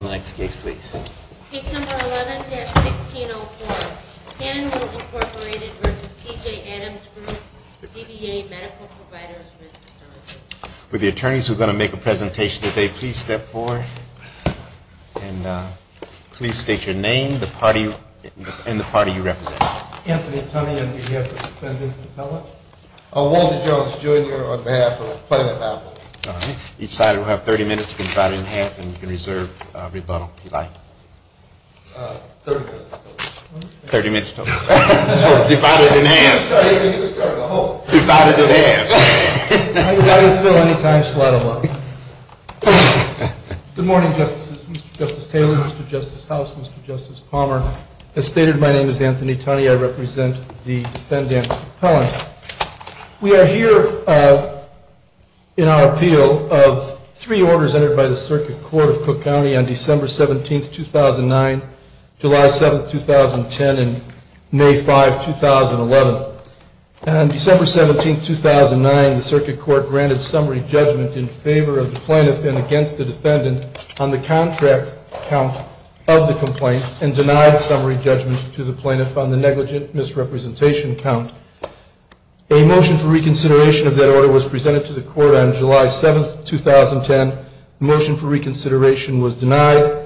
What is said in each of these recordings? With the attorneys who are going to make a presentation today, please step forward and please state your name and the party you represent. Anthony Toney on behalf of the President and the public. Walter Jones, Jr. on behalf of the Plano family. Each side will have 30 minutes. You can divide it in half and you can reserve rebuttal if you'd like. 30 minutes total. 30 minutes total. Divided in half. Divided in half. Good morning, Justices. Mr. Justice Taylor, Mr. Justice House, Mr. Justice Palmer. As stated, my name is Anthony Toney. I represent the defendant, Pellanty. We are here in our appeal of three orders entered by the Circuit Court of Cook County on December 17, 2009, July 7, 2010, and May 5, 2011. On December 17, 2009, the Circuit Court granted summary judgment in favor of the plaintiff and against the defendant on the contract count of the complaint and denied summary judgment to the plaintiff on the negligent misrepresentation count. A motion for reconsideration of that order was presented to the Court on July 7, 2010. The motion for reconsideration was denied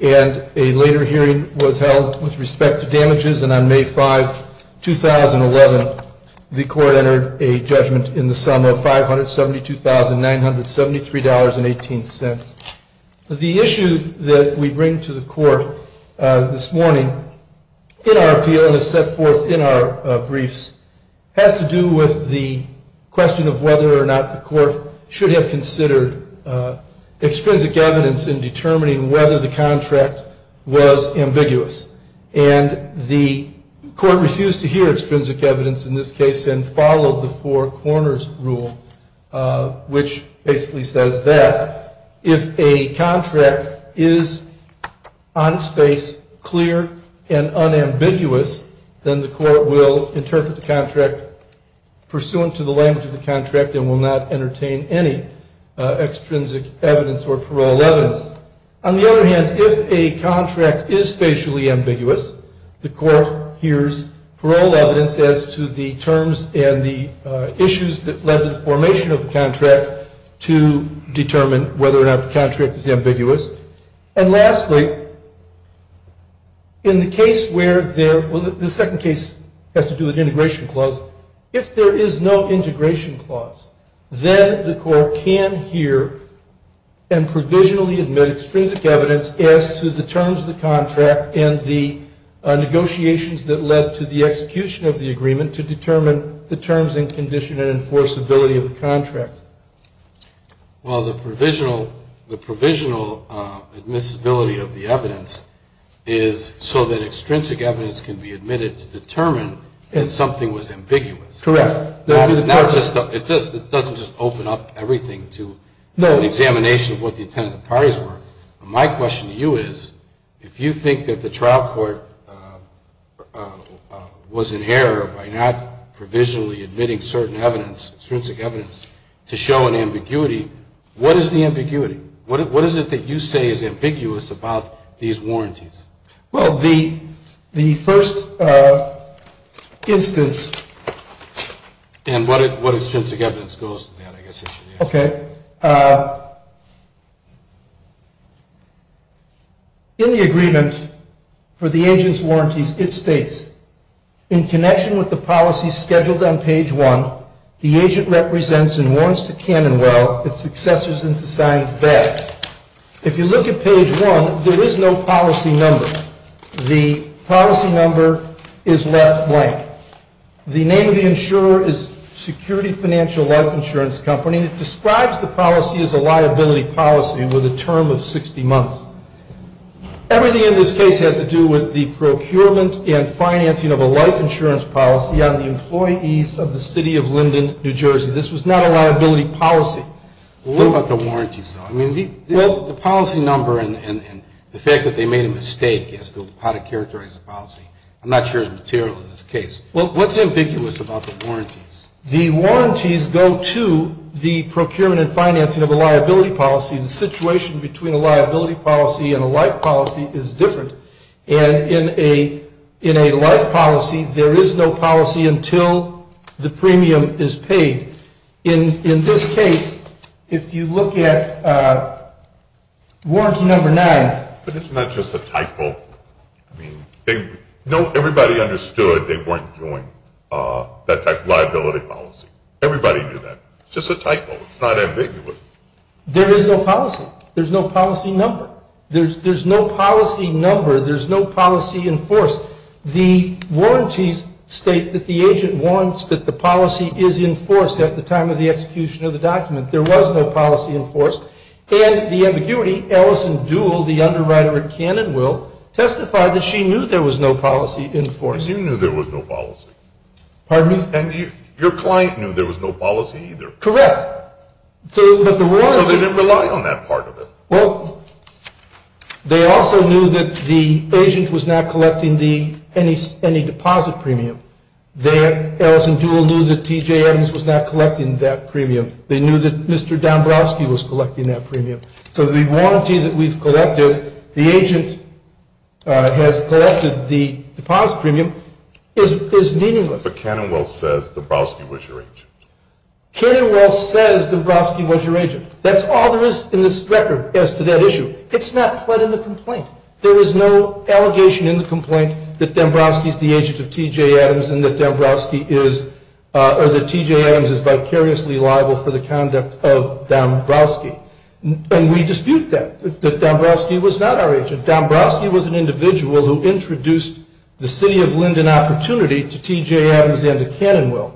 and a later hearing was held with respect to damages. And on May 5, 2011, the Court entered a judgment in the sum of $572,973.18. The issue that we bring to the Court this morning in our appeal and is set forth in our briefs has to do with the question of whether or not the Court should have considered extrinsic evidence in determining whether the contract was ambiguous. And the Court refused to hear extrinsic evidence in this case and followed the four corners rule, which basically says that if a contract is on space, clear, and unambiguous, then the Court will interpret the contract pursuant to the language of the contract and will not entertain any extrinsic evidence or parole evidence. On the other hand, if a contract is spatially ambiguous, the Court hears parole evidence as to the terms and the issues that led to the formation of the contract to determine whether or not the contract is ambiguous. And lastly, in the case where there – well, the second case has to do with integration clause. If there is no integration clause, then the Court can hear and provisionally admit extrinsic evidence as to the terms of the contract and the negotiations that led to the execution of the agreement to determine the terms and condition and enforceability of the contract. Well, the provisional admissibility of the evidence is so that extrinsic evidence can be admitted to determine if something was ambiguous. Correct. It doesn't just open up everything to an examination of what the intent of the parties were. My question to you is, if you think that the trial court was in error by not provisionally admitting certain evidence, extrinsic evidence, to show an ambiguity, what is the ambiguity? What is it that you say is ambiguous about these warranties? Well, the first instance – And what extrinsic evidence goes to that, I guess you should ask. Okay. In the agreement for the agent's warranties, it states, in connection with the policy scheduled on page 1, the agent represents and warrants to Cannonwell its successors and to signs that. If you look at page 1, there is no policy number. The policy number is left blank. The name of the insurer is Security Financial Life Insurance Company, and it describes the policy as a liability policy with a term of 60 months. Everything in this case had to do with the procurement and financing of a life insurance policy on the employees of the city of Linden, New Jersey. This was not a liability policy. What about the warranties, though? I mean, the policy number and the fact that they made a mistake as to how to characterize the policy, I'm not sure is material in this case. What's ambiguous about the warranties? The warranties go to the procurement and financing of a liability policy. The situation between a liability policy and a life policy is different. And in a life policy, there is no policy until the premium is paid. In this case, if you look at warranty number 9. But it's not just a typo. I mean, everybody understood they weren't doing that type of liability policy. Everybody knew that. It's just a typo. It's not ambiguous. There is no policy. There's no policy number. There's no policy number. There's no policy enforced. The warranties state that the agent warns that the policy is enforced at the time of the execution of the document. There was no policy enforced. And the ambiguity, Ellison Duell, the underwriter at Cannon Will, testified that she knew there was no policy enforced. And you knew there was no policy. Pardon me? And your client knew there was no policy either. Correct. So they didn't rely on that part of it. Well, they also knew that the agent was not collecting any deposit premium. Ellison Duell knew that TJ Adams was not collecting that premium. They knew that Mr. Dombrowski was collecting that premium. So the warranty that we've collected, the agent has collected the deposit premium, is meaningless. But Cannon Will says Dombrowski was your agent. Cannon Will says Dombrowski was your agent. That's all there is in this record as to that issue. It's not put in the complaint. There is no allegation in the complaint that Dombrowski is the agent of TJ Adams and that TJ Adams is vicariously liable for the conduct of Dombrowski. And we dispute that, that Dombrowski was not our agent. Dombrowski was an individual who introduced the city of Linden opportunity to TJ Adams and to Cannon Will.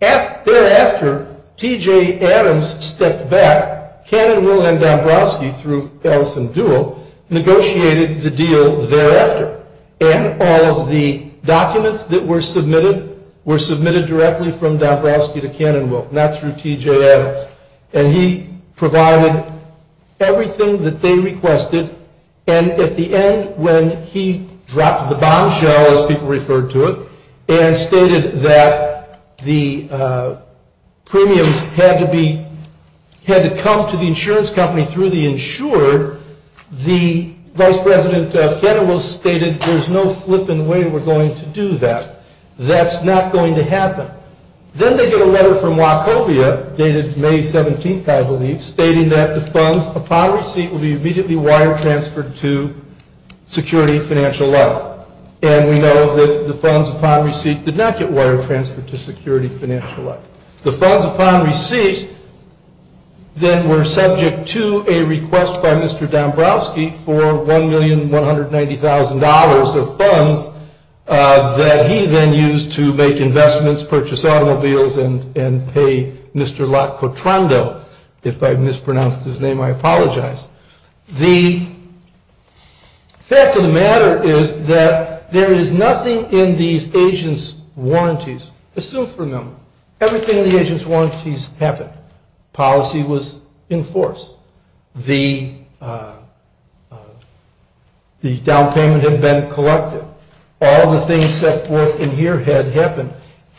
Thereafter, TJ Adams stepped back. Cannon Will and Dombrowski, through Ellison Duell, negotiated the deal thereafter. And all of the documents that were submitted were submitted directly from Dombrowski to Cannon Will, not through TJ Adams. And he provided everything that they requested. And at the end, when he dropped the bombshell, as people referred to it, and stated that the premiums had to come to the insurance company through the insurer, the vice president of Cannon Will stated, there's no flipping way we're going to do that. That's not going to happen. Then they get a letter from Wachovia, dated May 17th, I believe, stating that the funds upon receipt will be immediately wire-transferred to Security Financial Life. And we know that the funds upon receipt did not get wire-transferred to Security Financial Life. The funds upon receipt then were subject to a request by Mr. Dombrowski for $1,190,000 of funds that he then used to make investments, purchase automobiles, and pay Mr. Lock-Cotrando. If I've mispronounced his name, I apologize. The fact of the matter is that there is nothing in these agents' warranties assumed from him. Everything in the agents' warranties happened. Policy was in force. The down payment had been collected. All the things set forth in here had happened.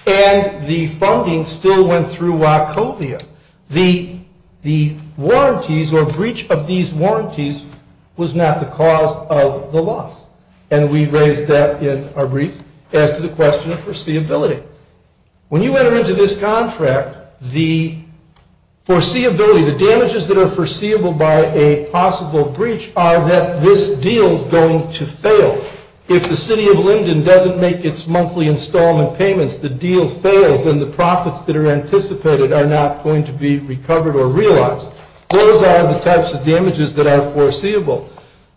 And the funding still went through Wachovia. The warranties or breach of these warranties was not the cause of the loss. And we raised that in our brief as to the question of foreseeability. When you enter into this contract, the foreseeability, the damages that are foreseeable by a possible breach are that this deal is going to fail. If the city of Linden doesn't make its monthly installment payments, the deal fails, and the profits that are anticipated are not going to be recovered or realized. Those are the types of damages that are foreseeable.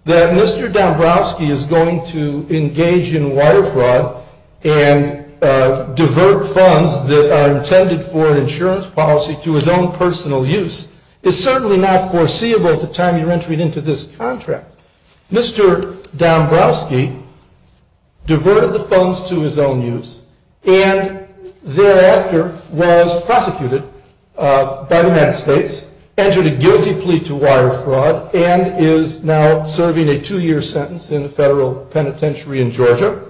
that Mr. Dombrowski is going to engage in wire fraud and divert funds that are intended for an insurance policy to his own personal use is certainly not foreseeable at the time you're entering into this contract. Mr. Dombrowski diverted the funds to his own use and thereafter was prosecuted by the United States, entered a guilty plea to wire fraud, and is now serving a two-year sentence in a federal penitentiary in Georgia,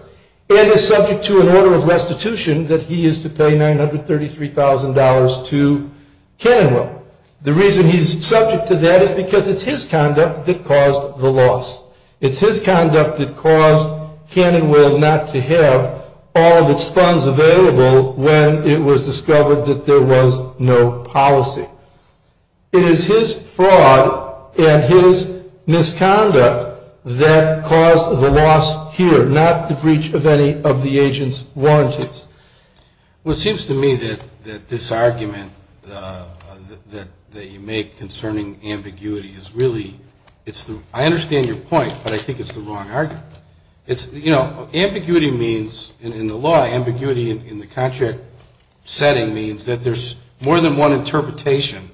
and is subject to an order of restitution that he is to pay $933,000 to Cannonwell. The reason he's subject to that is because it's his conduct that caused the loss. It's his conduct that caused Cannonwell not to have all of its funds available when it was discovered that there was no policy. It is his fraud and his misconduct that caused the loss here, not the breach of any of the agent's warranties. Well, it seems to me that this argument that you make concerning ambiguity is really, I understand your point, but I think it's the wrong argument. Ambiguity means, in the law, ambiguity in the contract setting means that there's more than one interpretation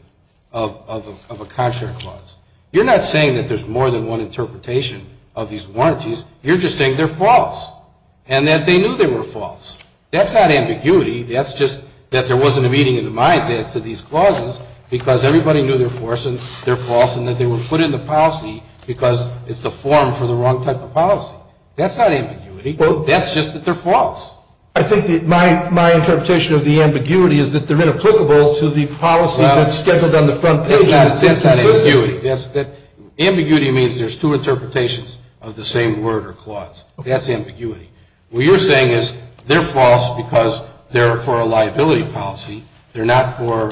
of a contract clause. You're not saying that there's more than one interpretation of these warranties. You're just saying they're false and that they knew they were false. That's not ambiguity. That's just that there wasn't a meeting of the minds as to these clauses because everybody knew they're false and that they were put in the policy because it's the form for the wrong type of policy. That's not ambiguity. That's just that they're false. I think my interpretation of the ambiguity is that they're inapplicable to the policy that's scheduled on the front page. That's not ambiguity. Ambiguity means there's two interpretations of the same word or clause. That's ambiguity. What you're saying is they're false because they're for a liability policy. They're not for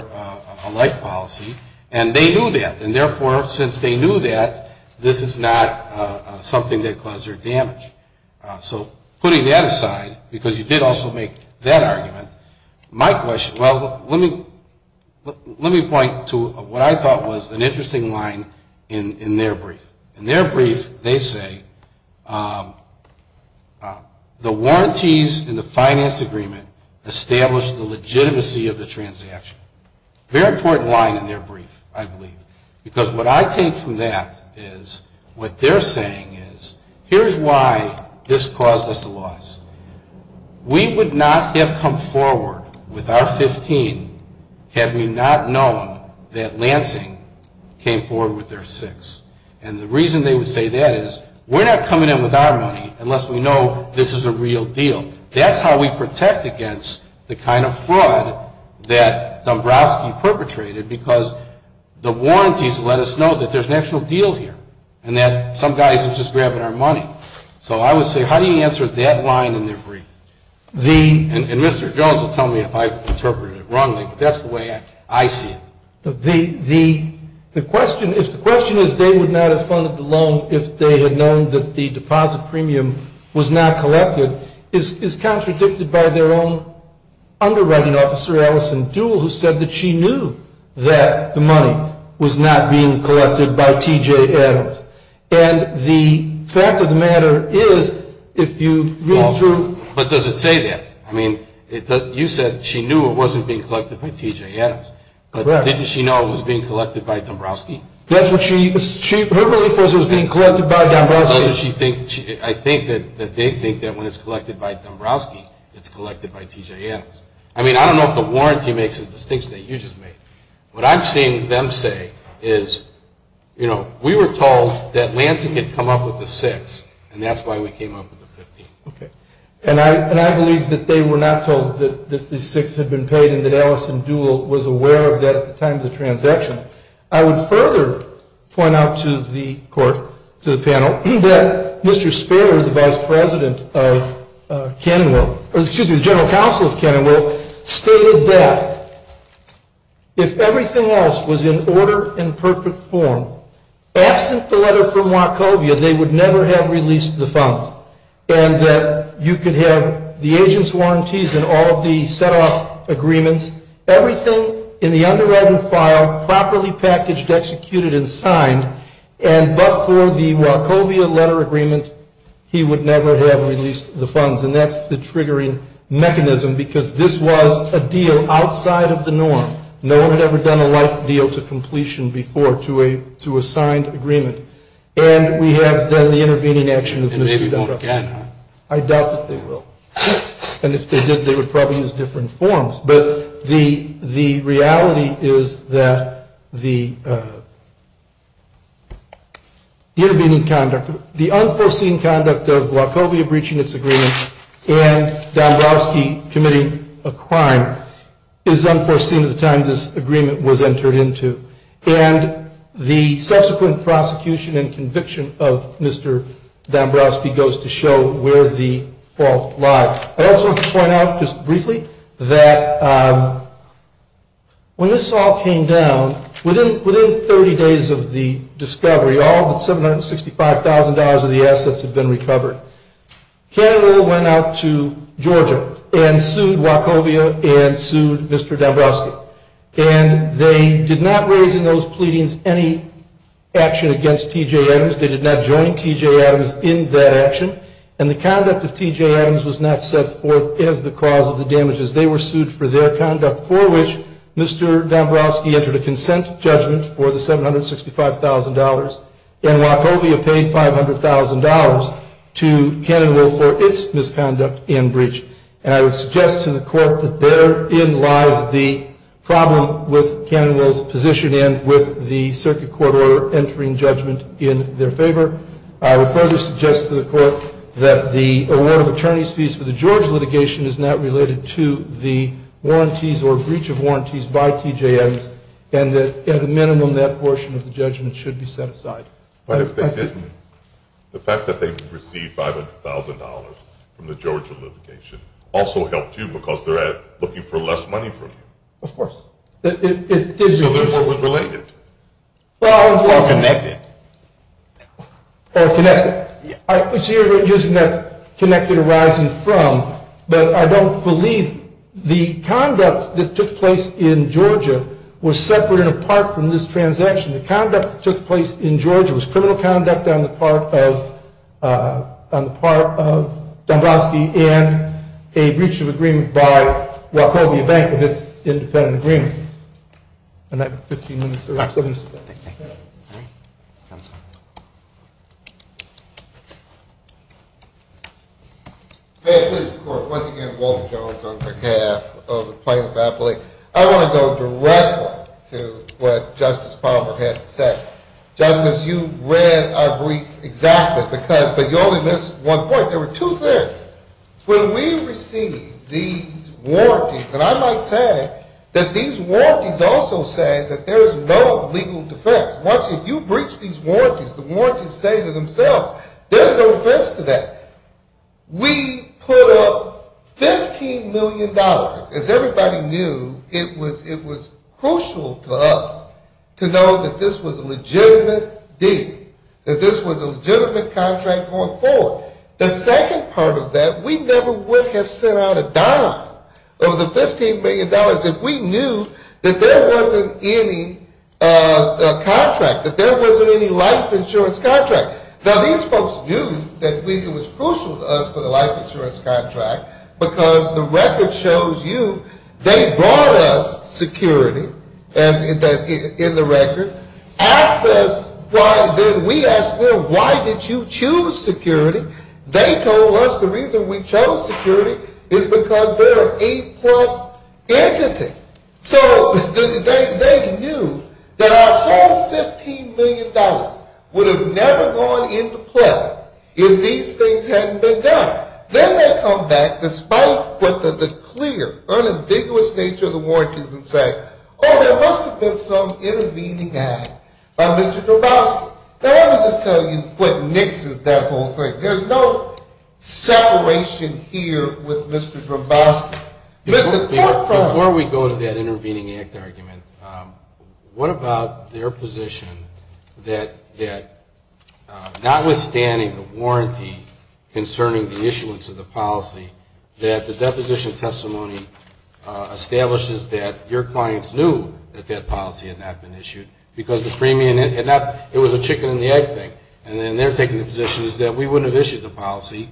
a life policy. And they knew that. And, therefore, since they knew that, this is not something that caused their damage. So putting that aside, because you did also make that argument, my question, well, let me point to what I thought was an interesting line in their brief. In their brief, they say, the warranties in the finance agreement establish the legitimacy of the transaction. Very important line in their brief, I believe. Because what I take from that is what they're saying is here's why this caused us the loss. We would not have come forward with our 15 had we not known that Lansing came forward with their 6. And the reason they would say that is we're not coming in with our money unless we know this is a real deal. That's how we protect against the kind of fraud that Dombrowski perpetrated, because the warranties let us know that there's an actual deal here and that some guys are just grabbing our money. So I would say how do you answer that line in their brief? And Mr. Jones will tell me if I interpreted it wrongly, but that's the way I see it. The question is they would not have funded the loan if they had known that the deposit premium was not collected. It's contradicted by their own underwriting officer, Alison Duell, who said that she knew that the money was not being collected by T.J. Adams. And the fact of the matter is if you read through – But does it say that? I mean, you said she knew it wasn't being collected by T.J. Adams. But didn't she know it was being collected by Dombrowski? That's what she – her belief was it was being collected by Dombrowski. I think that they think that when it's collected by Dombrowski, it's collected by T.J. Adams. I mean, I don't know if the warranty makes a distinction that you just made. What I'm seeing them say is, you know, we were told that Lansing had come up with the six, and that's why we came up with the 15. Okay. And I believe that they were not told that the six had been paid and that Alison Duell was aware of that at the time of the transaction. I would further point out to the court, to the panel, that Mr. Spader, the vice president of Cannonwell – or excuse me, the general counsel of Cannonwell stated that if everything else was in order and perfect form, absent the letter from Wachovia, they would never have released the funds and that you could have the agent's warranties and all of the set-off agreements, everything in the underwritten file, properly packaged, executed and signed, and but for the Wachovia letter agreement, he would never have released the funds. And that's the triggering mechanism because this was a deal outside of the norm. No one had ever done a life deal to completion before to a signed agreement. And we have, then, the intervening action of Mr. Dombrowski. And maybe they won't again, huh? I doubt that they will. And if they did, they would probably use different forms. But the reality is that the intervening conduct, the unforeseen conduct of Wachovia breaching its agreement and Dombrowski committing a crime is unforeseen at the time this agreement was entered into. And the subsequent prosecution and conviction of Mr. Dombrowski goes to show where the fault lies. I also want to point out, just briefly, that when this all came down, within 30 days of the discovery, all but $765,000 of the assets had been recovered. Cannonville went out to Georgia and sued Wachovia and sued Mr. Dombrowski. And they did not raise in those pleadings any action against T.J. Adams. They did not join T.J. Adams in that action. And the conduct of T.J. Adams was not set forth as the cause of the damages. They were sued for their conduct, for which Mr. Dombrowski entered a consent judgment for the $765,000 and Wachovia paid $500,000 to Cannonville for its misconduct and breach. And I would suggest to the court that therein lies the problem with Cannonville's position and with the circuit court order entering judgment in their favor. I would further suggest to the court that the award of attorney's fees for the Georgia litigation is not related to the warranties or breach of warranties by T.J. Adams and that, at a minimum, that portion of the judgment should be set aside. But if they didn't, the fact that they received $500,000 from the Georgia litigation also helped you because they're looking for less money from you. Of course. So this is what was related. Or connected. Or connected. So you're using that connected arising from, but I don't believe the conduct that took place in Georgia was separate and apart from this transaction. The conduct that took place in Georgia was criminal conduct on the part of Dombrowski and a breach of agreement by Wachovia Bank of its independent agreement. And I have 15 minutes or so. Thank you. Counsel. May it please the Court. Once again, Walter Jones on behalf of the plaintiff's athlete. I want to go directly to what Justice Palmer had to say. Justice, you read our brief exactly, but you only missed one point. There were two things. When we received these warranties, and I might say that these warranties also say that there is no legal defense. Once you breach these warranties, the warranties say to themselves, there's no defense to that. We put up $15 million. As everybody knew, it was crucial to us to know that this was a legitimate deal, that this was a legitimate contract going forward. The second part of that, we never would have sent out a dime of the $15 million if we knew that there wasn't any contract, that there wasn't any life insurance contract. Now, these folks knew that it was crucial to us for the life insurance contract, because the record shows you they brought us security, as in the record, asked us, then we asked them, why did you choose security? They told us the reason we chose security is because they're an A-plus entity. So they knew that our whole $15 million would have never gone into play if these things hadn't been done. Then they come back, despite the clear, unambiguous nature of the warranties, and say, oh, there must have been some intervening act by Mr. Droboski. Now, let me just tell you what mixes that whole thing. There's no separation here with Mr. Droboski. Before we go to that intervening act argument, what about their position that notwithstanding the warranty the issuance of the policy, that the deposition testimony establishes that your clients knew that that policy had not been issued, because the premium, it was a chicken-and-the-egg thing. And then they're taking the position that we wouldn't have issued the policy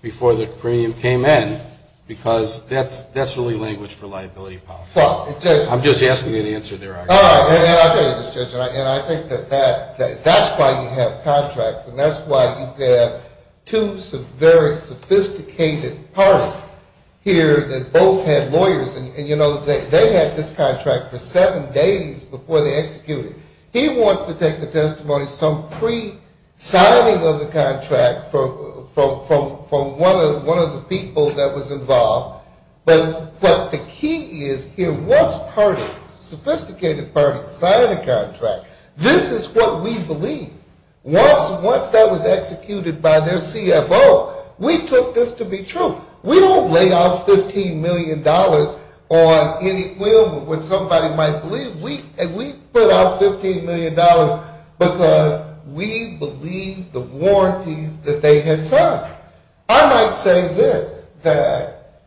before the premium came in, because that's really language for liability policy. All right. And I'll tell you this, Judge, and I think that that's why you have contracts, and that's why you have two very sophisticated parties here that both had lawyers. And, you know, they had this contract for seven days before they executed it. He wants to take the testimony some pre-signing of the contract from one of the people that was involved. But the key is here, once parties, sophisticated parties, sign a contract, this is what we believe. Once that was executed by their CFO, we took this to be true. We don't lay out $15 million on any quill where somebody might believe. We put out $15 million because we believe the warranties that they had signed. Now, I might say this, that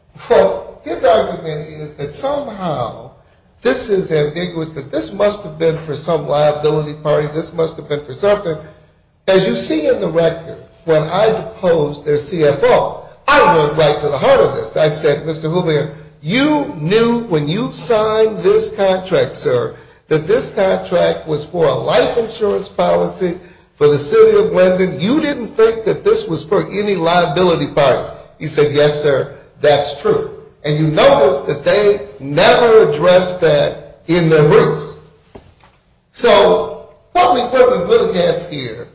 his argument is that somehow this is ambiguous, that this must have been for some liability party, this must have been for something. As you see in the record, when I deposed their CFO, I went right to the heart of this. I said, Mr. Houlihan, you knew when you signed this contract, sir, that this contract was for a life insurance policy for the city of London. You didn't think that this was for any liability party. He said, yes, sir, that's true. And you notice that they never addressed that in their roots. So what we have here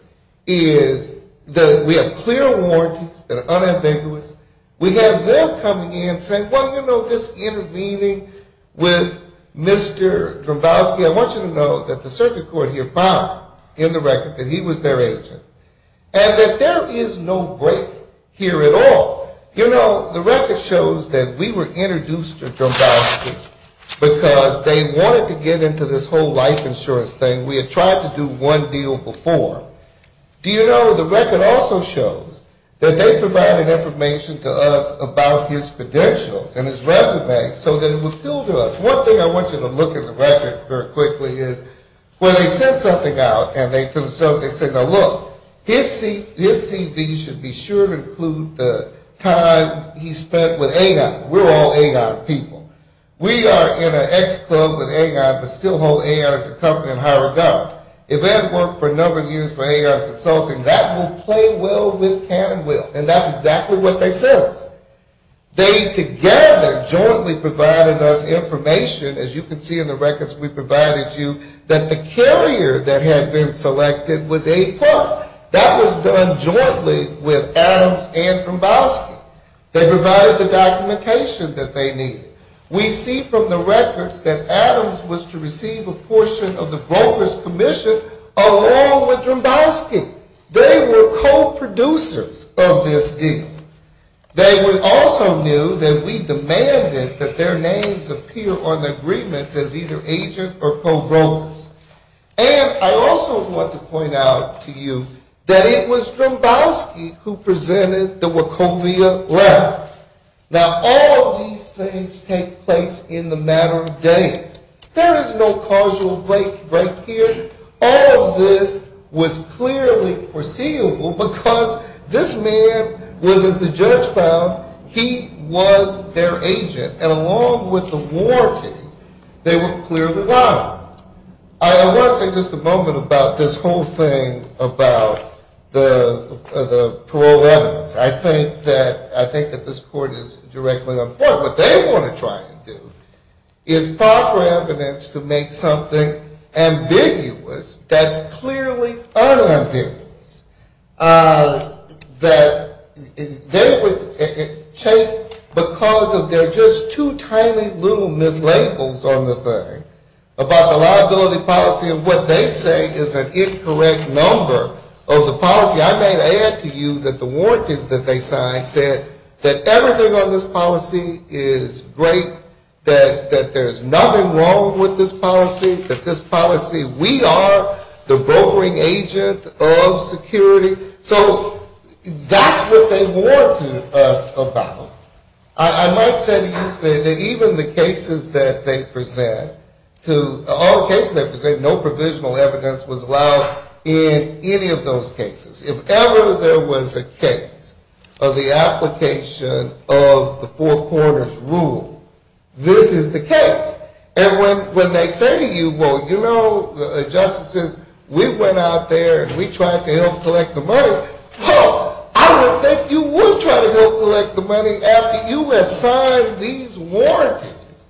is that we have clear warranties that are unambiguous. We have them coming in saying, well, you know, this intervening with Mr. Drombowski, I want you to know that the circuit court here found in the record that he was their agent and that there is no break here at all. You know, the record shows that we were introduced to Drombowski because they wanted to get into this whole life insurance thing. We had tried to do one deal before. Do you know the record also shows that they provided information to us about his credentials and his resume so that it would appeal to us. One thing I want you to look at the record very quickly is when they sent something out and they said, now look, his CV should be sure to include the time he spent with Agon. We're all Agon people. We are in an ex-club with Agon but still hold Agon as a company in high regard. If Ed worked for a number of years for Agon Consulting, that will play well with Cannon Wheel. And that's exactly what they said. They together jointly provided us information, as you can see in the records we provided you, that the carrier that had been selected was A+. That was done jointly with Adams and Drombowski. They provided the documentation that they needed. We see from the records that Adams was to receive a portion of the broker's commission along with Drombowski. They were co-producers of this deal. They also knew that we demanded that their names appear on the agreements as either agents or co-brokers. And I also want to point out to you that it was Drombowski who presented the Wachovia letter. Now all of these things take place in a matter of days. There is no causal break here. All of this was clearly foreseeable because this man was, as the judge found, he was their agent. And along with the warranties, they were clearly liable. I want to say just a moment about this whole thing about the parole evidence. I think that this court is directly on board. What they want to try and do is proffer evidence to make something ambiguous that's clearly unambiguous. That they would take because of their just two tiny little mislabels on the thing about the liability policy and what they say is an incorrect number of the policy. I may add to you that the warranties that they signed said that everything on this policy is great, that there's nothing wrong with this policy, that this policy, we are the brokering agent of security. So that's what they warranted us about. I might say to you today that even the cases that they present, all the cases they present, no provisional evidence was allowed in any of those cases. If ever there was a case of the application of the four quarters rule, this is the case. And when they say to you, well, you know, justices, we went out there and we tried to help collect the money. I don't think you would try to help collect the money after you had signed these warranties.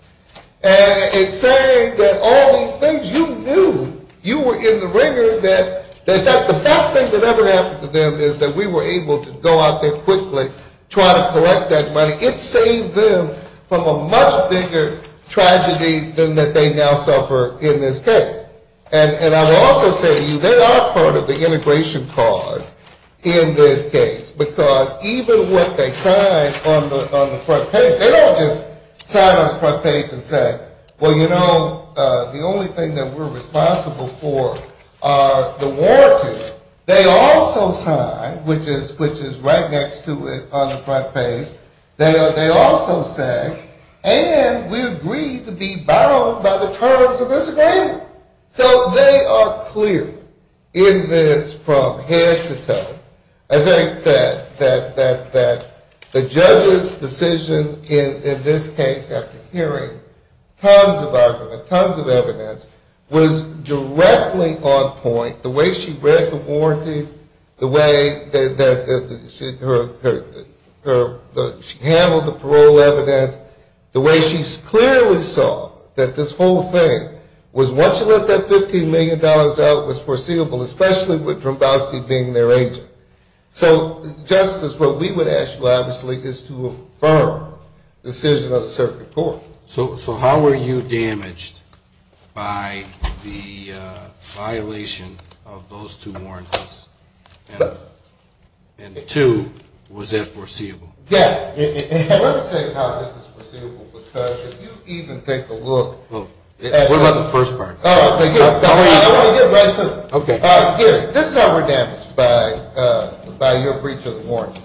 And it's saying that all these things you knew, you were in the rigor that the best thing that ever happened to them is that we were able to go out there quickly, try to collect that money. It saved them from a much bigger tragedy than that they now suffer in this case. And I will also say to you, they are part of the integration cause in this case, because even what they sign on the front page, they don't just sign on the front page and say, well, you know, the only thing that we're responsible for are the warranties. They also sign, which is right next to it on the front page, they also say, and we agreed to be bound by the terms of this agreement. So they are clear in this from head to toe. I think that the judge's decision in this case, after hearing tons of argument, tons of evidence, was directly on point, the way she read the warranties, the way that she handled the parole evidence, the way she clearly saw that this whole thing was once you let that $15 million out, it was foreseeable, especially with Brombowski being their agent. So, Justice, what we would ask you, obviously, is to affirm the decision of the circuit court. So how were you damaged by the violation of those two warranties? And two, was that foreseeable? Yes. Let me tell you how this is foreseeable, because if you even take a look at the first part. Let me get right to it. Gary, this is how we're damaged by your breach of the warrant.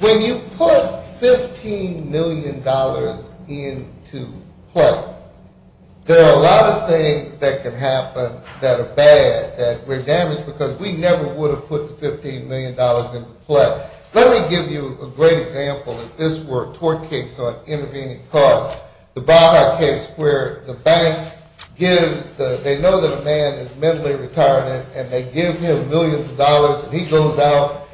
When you put $15 million into play, there are a lot of things that can happen that are bad, that we're damaged because we never would have put the $15 million into play. Let me give you a great example of this tort case on intervening costs. The Baja case where the bank gives, they know that a man is mentally retarded, and they give him millions of dollars, and he goes out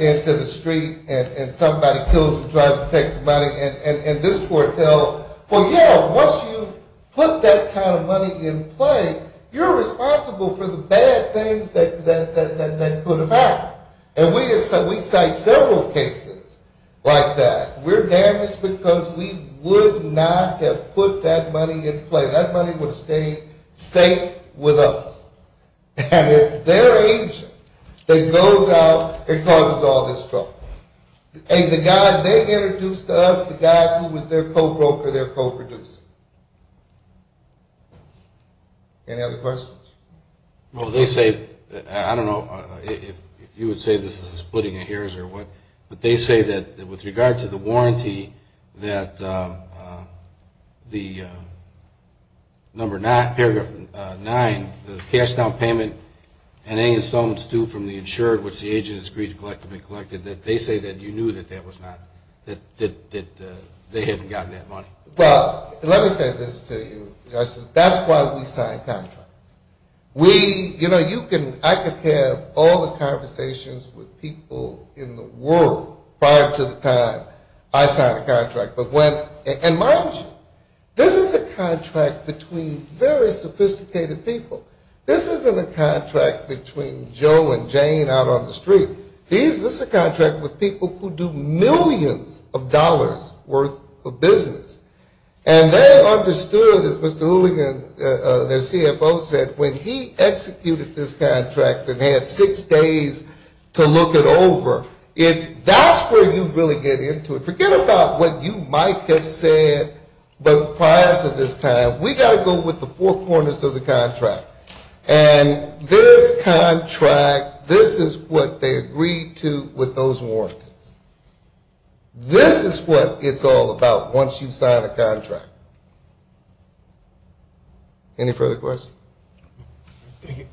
into the street, and somebody kills him and tries to take the money. And this court held, well, yeah, once you put that kind of money in play, you're responsible for the bad things that could have happened. And we cite several cases like that. We're damaged because we would not have put that money in play. That money would have stayed safe with us. And it's their agent that goes out and causes all this trouble. And the guy they introduced to us, the guy who was their co-broker, their co-producer. Any other questions? Well, they say, I don't know if you would say this is a splitting of hairs or what, but they say that with regard to the warranty that the number nine, paragraph nine, the cash down payment and any installments due from the insured, which the agents agreed to collect had been collected, that they say that you knew that they hadn't gotten that money. Well, let me say this to you. That's why we signed contracts. You know, I could have all the conversations with people in the world prior to the time I signed a contract. And mind you, this is a contract between very sophisticated people. This isn't a contract between Joe and Jane out on the street. This is a contract with people who do millions of dollars worth of business. And they understood, as Mr. Hooligan, their CFO, said, when he executed this contract and had six days to look it over, that's where you really get into it. Forget about what you might have said prior to this time. We've got to go with the four corners of the contract. And this contract, this is what they agreed to with those warranties. This is what it's all about once you've signed a contract. Any further questions? Thank you.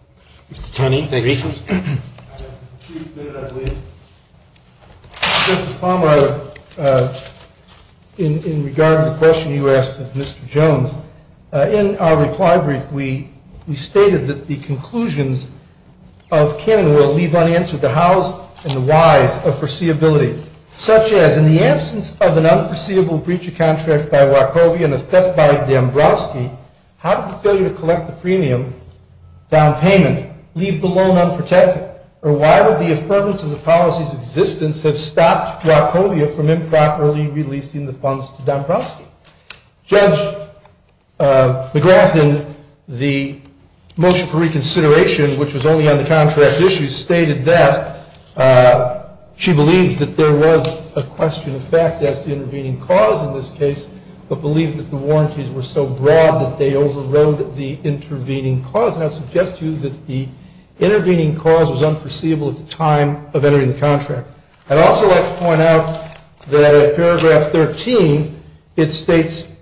Mr. Taney, any questions? Mr. Palmer, in regard to the question you asked of Mr. Jones, in our reply brief, we stated that the conclusions of Cannon will leave unanswered the hows and the whys of foreseeability. Such as, in the absence of an unforeseeable breach of contract by Wachovia and a theft by Dombrowski, how did the failure to collect the premium down payment leave the loan unprotected? Or why would the affirmance of the policy's existence have stopped Wachovia from improperly releasing the funds to Dombrowski? Judge McGrath in the motion for reconsideration, which was only on the contract issue, stated that she believed that there was a question of fact as to intervening cause in this case, but believed that the warranties were so broad that they overrode the intervening cause. And I suggest to you that the intervening cause was unforeseeable at the time of entering the contract. I'd also like to point out that at paragraph 13, it states,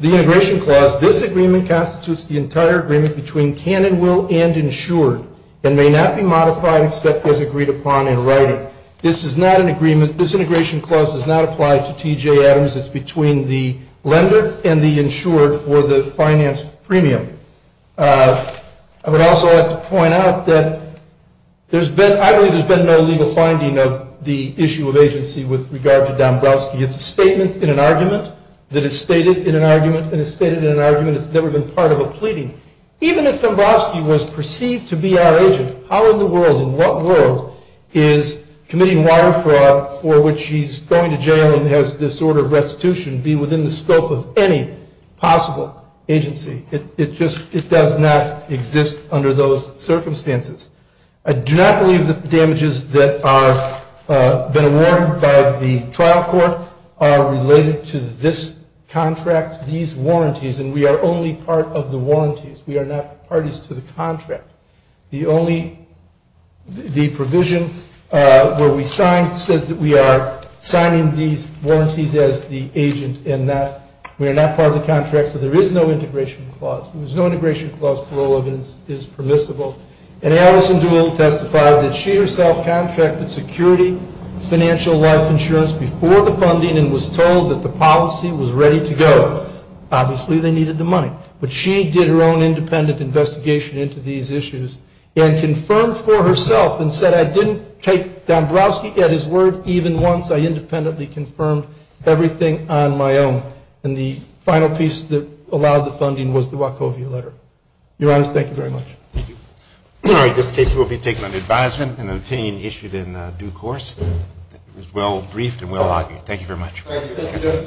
the integration clause, this agreement constitutes the entire agreement between Cannon will and insured, and may not be modified except as agreed upon in writing. This is not an agreement, this integration clause does not apply to T.J. Adams, it's between the lender and the insured for the finance premium. I would also like to point out that I believe there's been no legal finding of the issue of agency with regard to Dombrowski. It's a statement in an argument that is stated in an argument and is stated in an argument. It's never been part of a pleading. Even if Dombrowski was perceived to be our agent, how in the world, in what world, is committing water fraud for which he's going to jail and has disorder of restitution be within the scope of any possible agency? It just, it does not exist under those circumstances. I do not believe that the damages that are been awarded by the trial court are related to this contract, these warranties, and we are only part of the warranties, we are not parties to the contract. The only, the provision where we sign says that we are signing these warranties as the agent, and that we are not part of the contract, so there is no integration clause. There's no integration clause for all of this is permissible. And Alison Dool testifies that she herself contracted security financial life insurance before the funding and was told that the policy was ready to go. Obviously, they needed the money. But she did her own independent investigation into these issues and confirmed for herself and said, I didn't take Dombrowski at his word even once. I independently confirmed everything on my own. And the final piece that allowed the funding was the Wachovia letter. Your Honor, thank you very much. Thank you. All right, this case will be taken under advisement and an opinion issued in due course. It was well briefed and well argued. Thank you very much. Thank you, Judge.